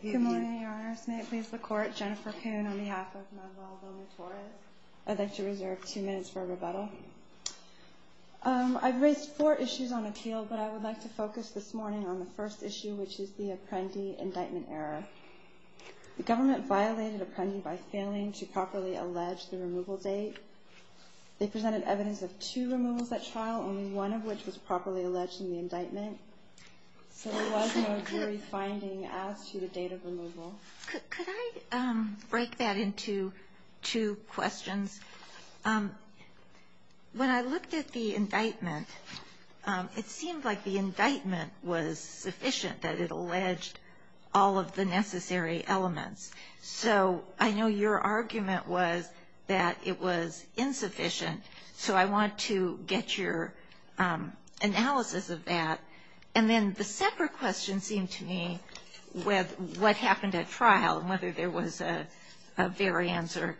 Good morning, your honors. May it please the court, Jennifer Poon on behalf of Manuel Loma-Torres. I'd like to reserve two minutes for a rebuttal. I've raised four issues on appeal, but I would like to focus this morning on the first issue, which is the Apprendi indictment error. The government violated Apprendi by failing to properly allege the removal date. They presented evidence of two removals at trial, only one of which was properly alleged in the indictment. So there was no jury finding as to the date of removal? Could I break that into two questions? When I looked at the indictment, it seemed like the indictment was sufficient, that it alleged all of the necessary elements. So I know your argument was that it was insufficient, so I want to get your analysis of that. And then the second question seemed to me with what happened at trial and whether there was a variance or a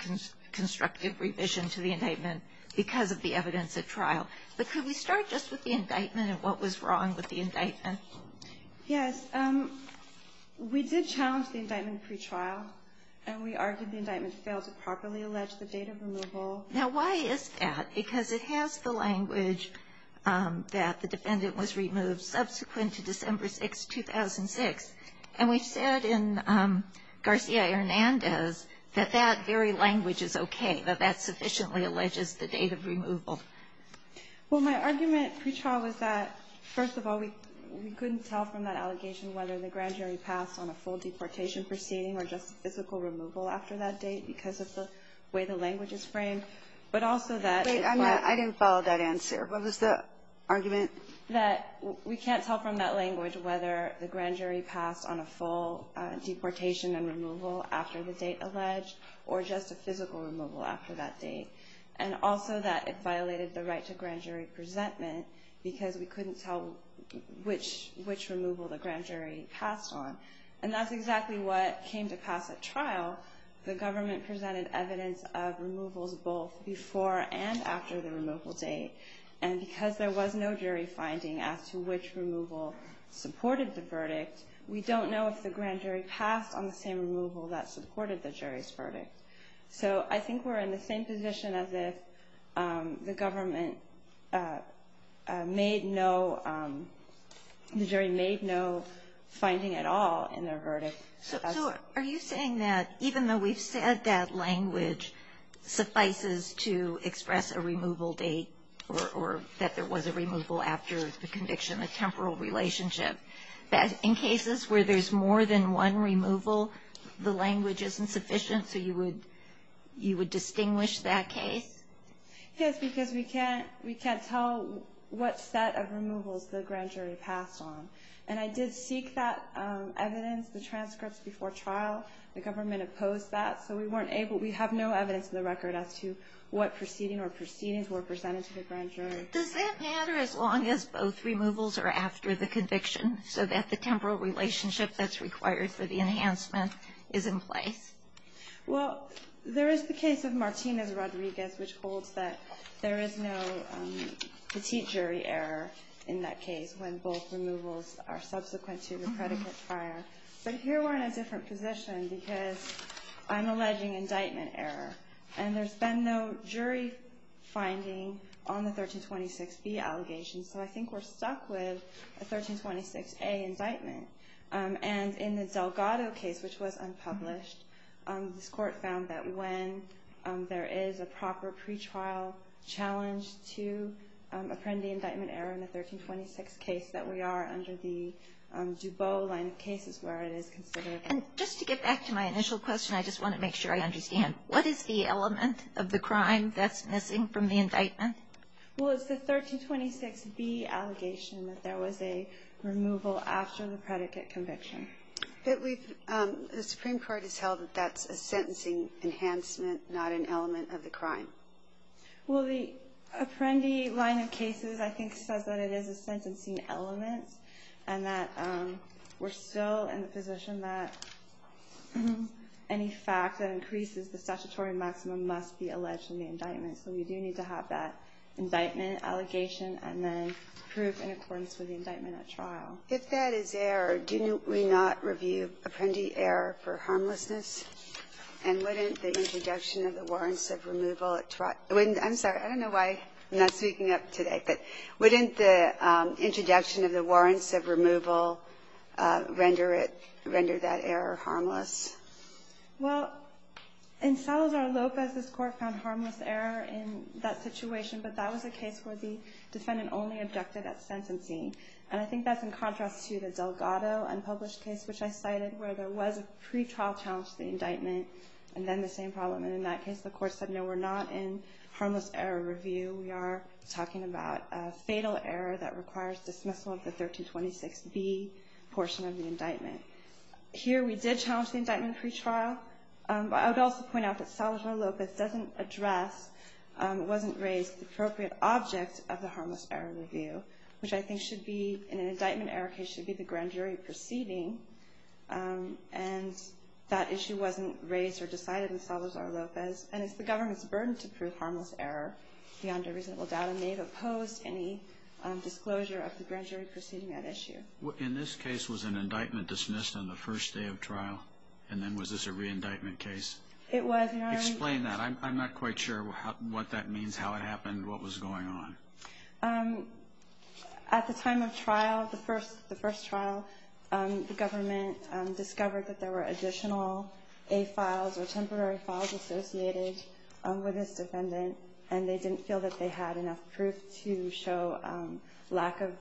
constructive revision to the indictment because of the evidence at trial. But could we start just with the indictment and what was wrong with the indictment? Yes. We did challenge the indictment pretrial, Now, why is that? Because it has the language that the defendant was removed subsequent to December 6, 2006. And we said in Garcia-Hernandez that that very language is okay, that that sufficiently alleges the date of removal. Well, my argument pretrial was that, first of all, we couldn't tell from that allegation whether the grand jury passed on a full deportation proceeding or just physical removal after that date because of the way the language is framed. But also that we can't tell from that language whether the grand jury passed on a full deportation and removal after the date alleged or just a physical removal after that date. And also that it violated the right to grand jury presentment because we couldn't tell which removal the grand jury passed on. And that's exactly what came to pass at trial. The government presented evidence of removals both before and after the removal date. And because there was no jury finding as to which removal supported the verdict, we don't know if the grand jury passed on the same removal that supported the jury's verdict. So I think we're in the same position as if the government made no, the jury made no finding at all in their verdict. So are you saying that even though we've said that language suffices to express a removal date or that there was a removal after the conviction, a temporal relationship, that in cases where there's more than one removal, the language isn't sufficient so you would distinguish that case? Yes, because we can't tell what set of removals the grand jury passed on. And I did seek that evidence, the transcripts, before trial. The government opposed that. So we weren't able, we have no evidence in the record as to what proceeding or proceedings were presented to the grand jury. Does that matter as long as both removals are after the conviction so that the temporal relationship that's required for the enhancement is in place? Well, there is the case of Martinez-Rodriguez, which holds that there is no petite jury error in that case when both removals are subsequent to the predicate prior. But here we're in a different position because I'm alleging indictment error. And there's been no jury finding on the 1326B allegations. So I think we're stuck with a 1326A indictment. And in the Delgado case, which was unpublished, this court found that when there is a proper pretrial challenge to apprendee indictment error in the 1326 case, that we are under the Dubot line of cases where it is considered. And just to get back to my initial question, I just want to make sure I understand, what is the element of the crime that's missing from the indictment? Well, it's the 1326B allegation that there was a removal after the predicate conviction. The Supreme Court has held that that's a sentencing enhancement, not an element of the crime. Well, the apprendee line of cases I think says that it is a sentencing element and that we're still in the position that any fact that increases the statutory maximum must be alleged in the indictment. So we do need to have that indictment allegation and then prove in accordance with the indictment at trial. If that is error, do we not review apprendee error for harmlessness? And wouldn't the introduction of the warrants of removal at trial? I'm sorry. I don't know why I'm not speaking up today. But wouldn't the introduction of the warrants of removal render it, render that error harmless? Well, in Salazar-Lopez, this court found harmless error in that situation, but that was a case where the defendant only objected at sentencing. And I think that's in contrast to the Delgado unpublished case, which I cited, where there was a pretrial challenge to the indictment and then the same problem. And in that case, the court said, no, we're not in harmless error review. We are talking about a fatal error that requires dismissal of the 1326B portion of the indictment. Here we did challenge the indictment pretrial. But I would also point out that Salazar-Lopez doesn't address, wasn't raised the appropriate object of the harmless error review, which I think should be, in an indictment error case, should be the grand jury proceeding. And that issue wasn't raised or decided in Salazar-Lopez. And it's the government's burden to prove harmless error beyond a reasonable doubt. And they've opposed any disclosure of the grand jury proceeding at issue. In this case, was an indictment dismissed on the first day of trial? And then was this a re-indictment case? It was, Your Honor. Explain that. I'm not quite sure what that means, how it happened, what was going on. At the time of trial, the first trial, the government discovered that there were additional A-files or temporary files associated with this defendant. And they didn't feel that they had enough proof to show lack of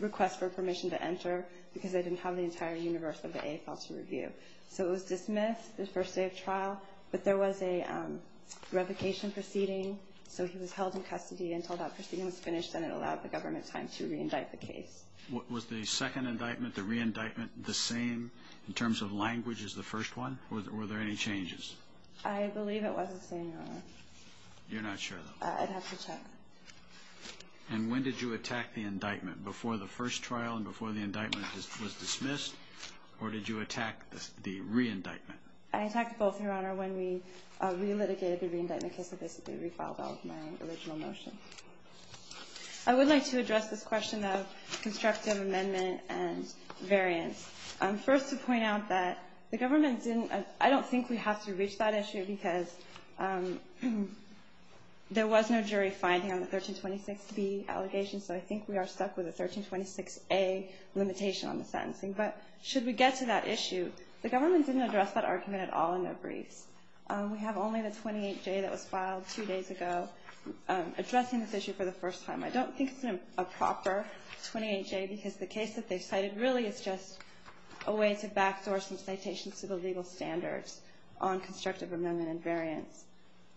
request for permission to enter because they didn't have the entire universe of the A-file to review. So it was dismissed the first day of trial, but there was a revocation proceeding, so he was held in custody until that proceeding was finished and it allowed the government time to re-indict the case. Was the second indictment, the re-indictment, the same in terms of language as the first one? Were there any changes? I believe it was the same, Your Honor. You're not sure, though? I'd have to check. And when did you attack the indictment? Before the first trial and before the indictment was dismissed? Or did you attack the re-indictment? I attacked both, Your Honor, when we re-litigated the re-indictment case and basically re-filed all of my original motions. I would like to address this question of constructive amendment and variance. First, to point out that the government didn't – I don't think we have to reach that issue because there was no jury finding on the 1326B allegation, so I think we are stuck with the 1326A limitation on the sentencing. But should we get to that issue, the government didn't address that argument at all in their briefs. We have only the 28J that was filed two days ago addressing this issue for the first time. I don't think it's a proper 28J because the case that they cited really is just a way to backdoor some citations to the legal standards on constructive amendment and variance.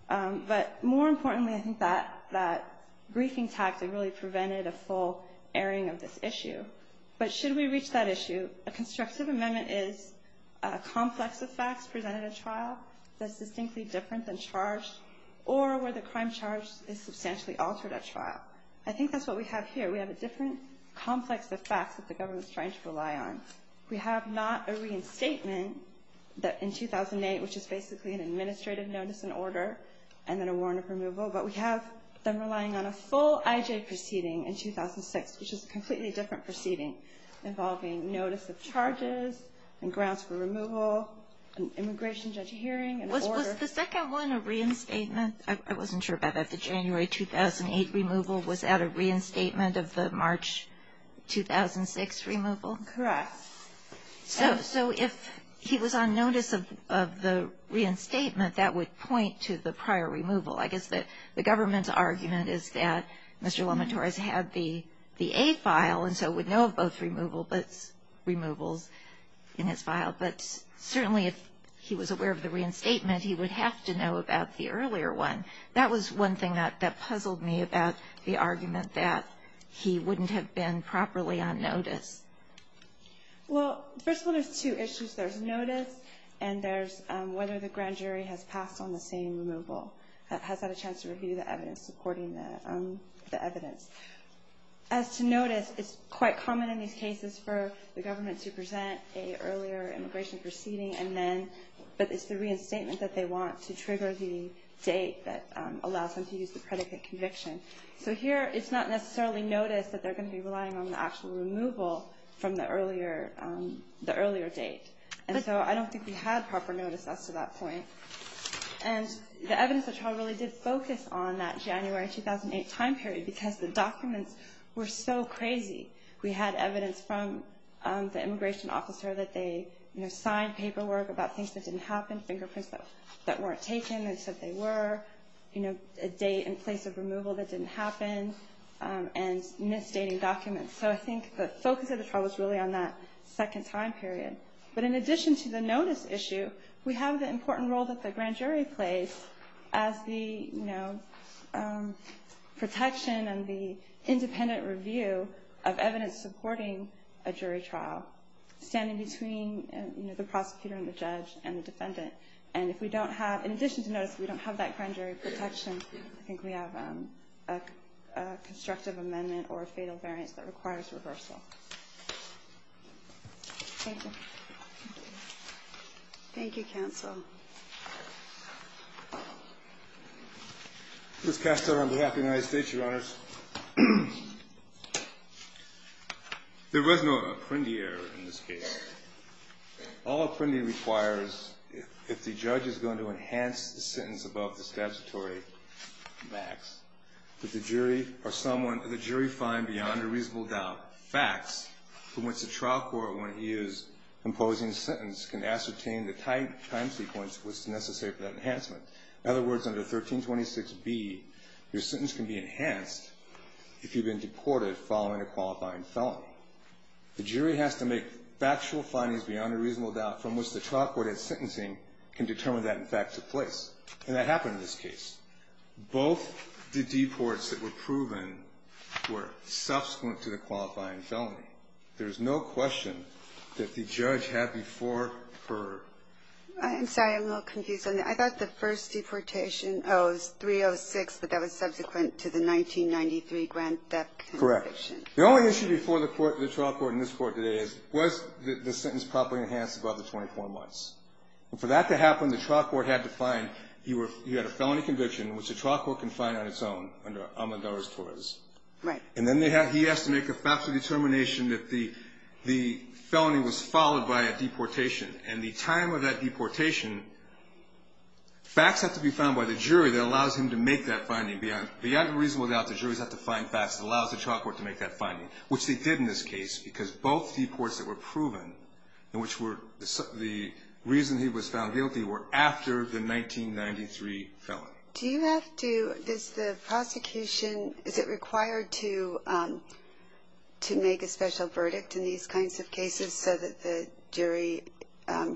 But more importantly, I think that briefing tactic really prevented a full airing of this issue. But should we reach that issue, a constructive amendment is a complex of facts presented at trial that's distinctly different than charged or where the crime charged is substantially altered at trial. I think that's what we have here. We have a different complex of facts that the government is trying to rely on. We have not a reinstatement that in 2008, which is basically an administrative notice and order and then a warrant of removal, but we have them relying on a full IJ proceeding in 2006, which is a completely different proceeding involving notice of charges and grounds for removal, immigration judge hearing and order. Was the second one a reinstatement? I wasn't sure about that. The January 2008 removal was at a reinstatement of the March 2006 removal? Correct. So if he was on notice of the reinstatement, that would point to the prior removal. I guess that the government's argument is that Mr. LaMontorez had the aid file and so would know of both removals in his file. But certainly if he was aware of the reinstatement, he would have to know about the earlier one. That was one thing that puzzled me about the argument that he wouldn't have been properly on notice. Well, the first one is two issues. There's notice and there's whether the grand jury has passed on the same removal and has had a chance to review the evidence, supporting the evidence. As to notice, it's quite common in these cases for the government to present an earlier immigration proceeding, but it's the reinstatement that they want to trigger the date that allows them to use the predicate conviction. So here it's not necessarily notice that they're going to be relying on the actual removal from the earlier date. And so I don't think we had proper notice as to that point. And the evidence of the trial really did focus on that January 2008 time period because the documents were so crazy. We had evidence from the immigration officer that they signed paperwork about things that didn't happen, fingerprints that weren't taken and said they were, a date and place of removal that didn't happen, and misdating documents. So I think the focus of the trial was really on that second time period. But in addition to the notice issue, we have the important role that the grand jury plays as the protection and the independent review of evidence supporting a jury trial, standing between the prosecutor and the judge and the defendant. And if we don't have, in addition to notice, if we don't have that grand jury protection, I think we have a constructive amendment or a fatal variance that requires reversal. Thank you. Thank you, counsel. Ms. Castell on behalf of the United States, Your Honors. There was no apprendi error in this case. All apprendi requires, if the judge is going to enhance the sentence above the statutory max, that the jury find beyond a reasonable doubt facts from which the trial court, when it is imposing a sentence, can ascertain the time sequence which is necessary for that enhancement. In other words, under 1326B, your sentence can be enhanced if you've been deported following a qualifying felony. The jury has to make factual findings beyond a reasonable doubt from which the trial court at sentencing can determine that, in fact, took place. And that happened in this case. Both the deports that were proven were subsequent to the qualifying felony. There's no question that the judge had before her. I'm sorry. I'm a little confused on that. I thought the first deportation, oh, it was 306, but that was subsequent to the 1993 grand theft conviction. Correct. The only issue before the court, the trial court, and this court today is, was the sentence properly enhanced above the 24 months. And for that to happen, the trial court had to find you had a felony conviction, which the trial court can find on its own under Amador's torres. Right. And then he has to make a factual determination that the felony was followed by a deportation. And the time of that deportation, facts have to be found by the jury that allows him to make that finding beyond a reasonable doubt. The juries have to find facts that allows the trial court to make that finding, which they did in this case because both deports that were proven, and which were the reason he was found guilty, were after the 1993 felony. Do you have to, does the prosecution, is it required to make a special verdict in these kinds of cases so that the jury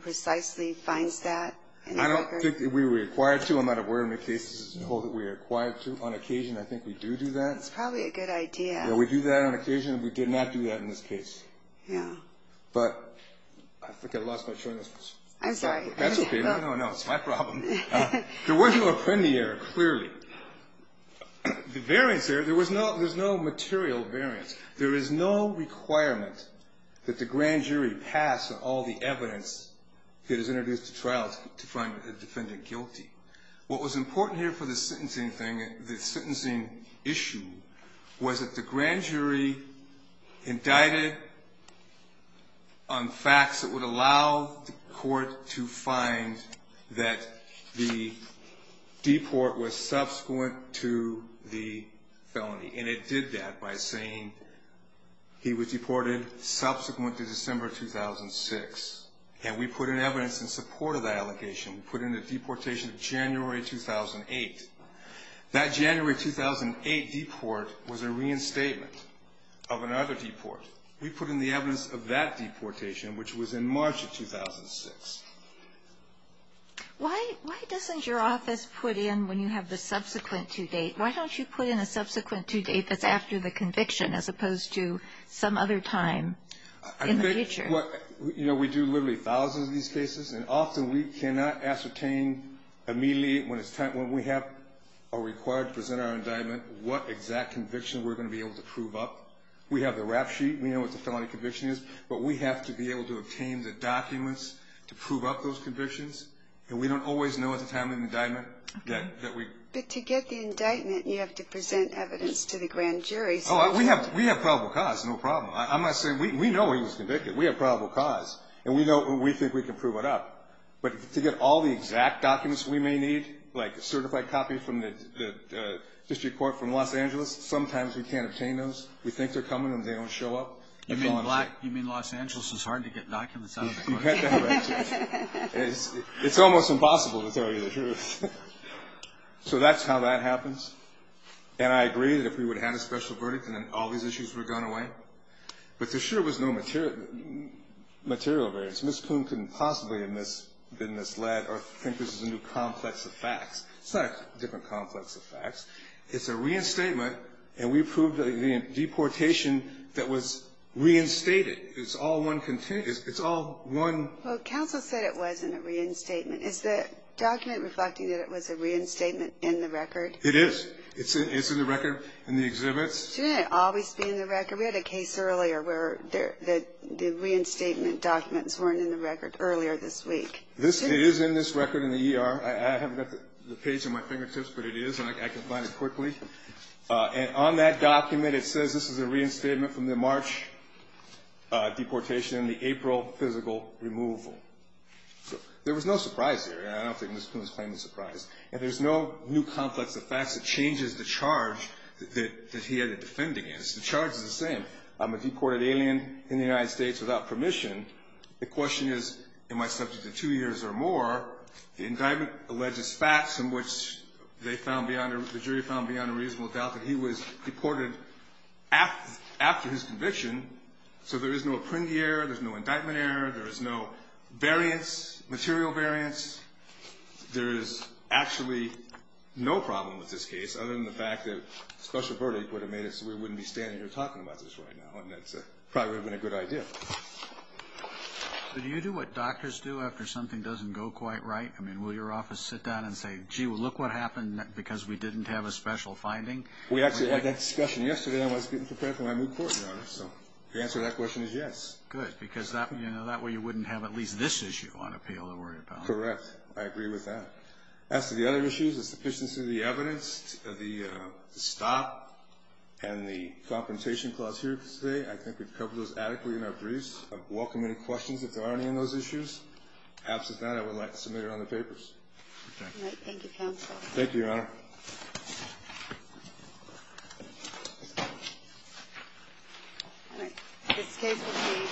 precisely finds that? I don't think we're required to. I'm not aware of any cases that we're required to. On occasion, I think we do do that. That's probably a good idea. We do that on occasion. We did not do that in this case. Yeah. But I think I lost my train of thought. I'm sorry. That's okay. No, no, no. It's my problem. There was no appendia clearly. The variance there, there was no material variance. There is no requirement that the grand jury pass on all the evidence that is introduced to trial to find the defendant guilty. What was important here for the sentencing thing, the sentencing issue, was that the grand jury indicted on facts that would allow the court to find that the deport was subsequent to the felony. And it did that by saying he was deported subsequent to December 2006. And we put in evidence in support of that allegation. We put in the deportation of January 2008. That January 2008 deport was a reinstatement of another deport. We put in the evidence of that deportation, which was in March of 2006. Why doesn't your office put in when you have the subsequent to date? Why don't you put in a subsequent to date that's after the conviction as opposed to some other time in the future? We do literally thousands of these cases. And often we cannot ascertain immediately when we have or are required to present our indictment what exact conviction we're going to be able to prove up. We have the rap sheet. We know what the felony conviction is. But we have to be able to obtain the documents to prove up those convictions. And we don't always know at the time of the indictment. But to get the indictment, you have to present evidence to the grand jury. We have probable cause, no problem. I'm not saying we know he was convicted. We have probable cause. And we think we can prove it up. But to get all the exact documents we may need, like a certified copy from the district court from Los Angeles, sometimes we can't obtain those. We think they're coming and they don't show up. You mean Los Angeles is hard to get documents out of? You get that right. It's almost impossible to tell you the truth. So that's how that happens. And I agree that if we would have had a special verdict and then all these issues would have gone away. But there sure was no material variance. Ms. Poon couldn't possibly have been misled or think this is a new complex of facts. It's not a different complex of facts. It's a reinstatement. And we proved the deportation that was reinstated. It's all one continuous. It's all one. Well, counsel said it wasn't a reinstatement. Is the document reflecting that it was a reinstatement in the record? It is. It's in the record in the exhibits. Shouldn't it always be in the record? We had a case earlier where the reinstatement documents weren't in the record earlier this week. It is in this record in the ER. I haven't got the page in my fingertips, but it is, and I can find it quickly. And on that document it says this is a reinstatement from the March deportation and the April physical removal. There was no surprise there. And I don't think Ms. Poon's claim is a surprise. And there's no new complex of facts that changes the charge that he had to defend against. The charge is the same. I'm a deported alien in the United States without permission. The question is, am I subject to two years or more? The indictment alleges facts in which they found beyond or the jury found beyond a reasonable doubt that he was deported after his conviction. So there is no appendix error. There's no indictment error. There is no variance, material variance. There is actually no problem with this case other than the fact that a special verdict would have made it so we wouldn't be standing here talking about this right now, and that probably would have been a good idea. So do you do what doctors do after something doesn't go quite right? I mean, will your office sit down and say, gee, look what happened because we didn't have a special finding? We actually had that discussion yesterday. I was getting prepared for my move court, Your Honor, so the answer to that question is yes. Good, because that way you wouldn't have at least this issue on appeal to worry about. Correct. I agree with that. As to the other issues, the sufficiency of the evidence, the stop, and the confrontation clause here today, I think we've covered those adequately in our briefs. I'd welcome any questions if there are any on those issues. Absent that, I would like to submit it on the papers. Thank you, counsel. Thank you, Your Honor. All right. This case would be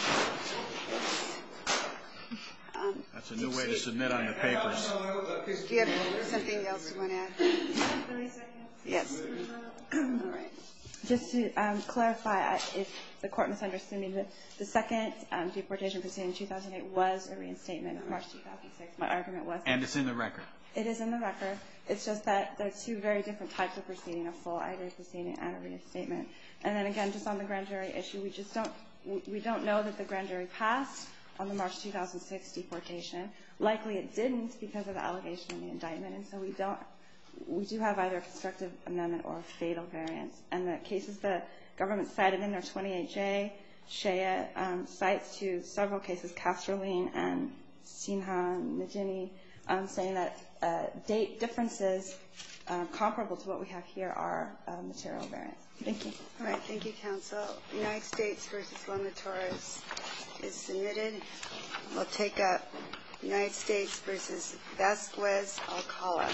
this. That's a new way to submit on the papers. Do you have something else you want to add? Yes. All right. Just to clarify, if the court misunderstood me, the second deportation proceeding in 2008 was a reinstatement in March 2006. My argument was that. And it's in the record. It is in the record. It's just that there are two very different types of proceeding, a full IJ proceeding and a reinstatement. And then again, just on the grand jury issue, we don't know that the grand jury passed on the March 2006 deportation. Likely it didn't because of the allegation in the indictment. And so we do have either a constructive amendment or a fatal variance. And the cases the government cited in their 28-J, Shea cites to several cases, Castroline and Sinha and Nijini, saying that date differences comparable to what we have here are material variance. Thank you. All right. Thank you, counsel. United States v. Longatoros is submitted. We'll take up United States v. Vasquez, Alcala.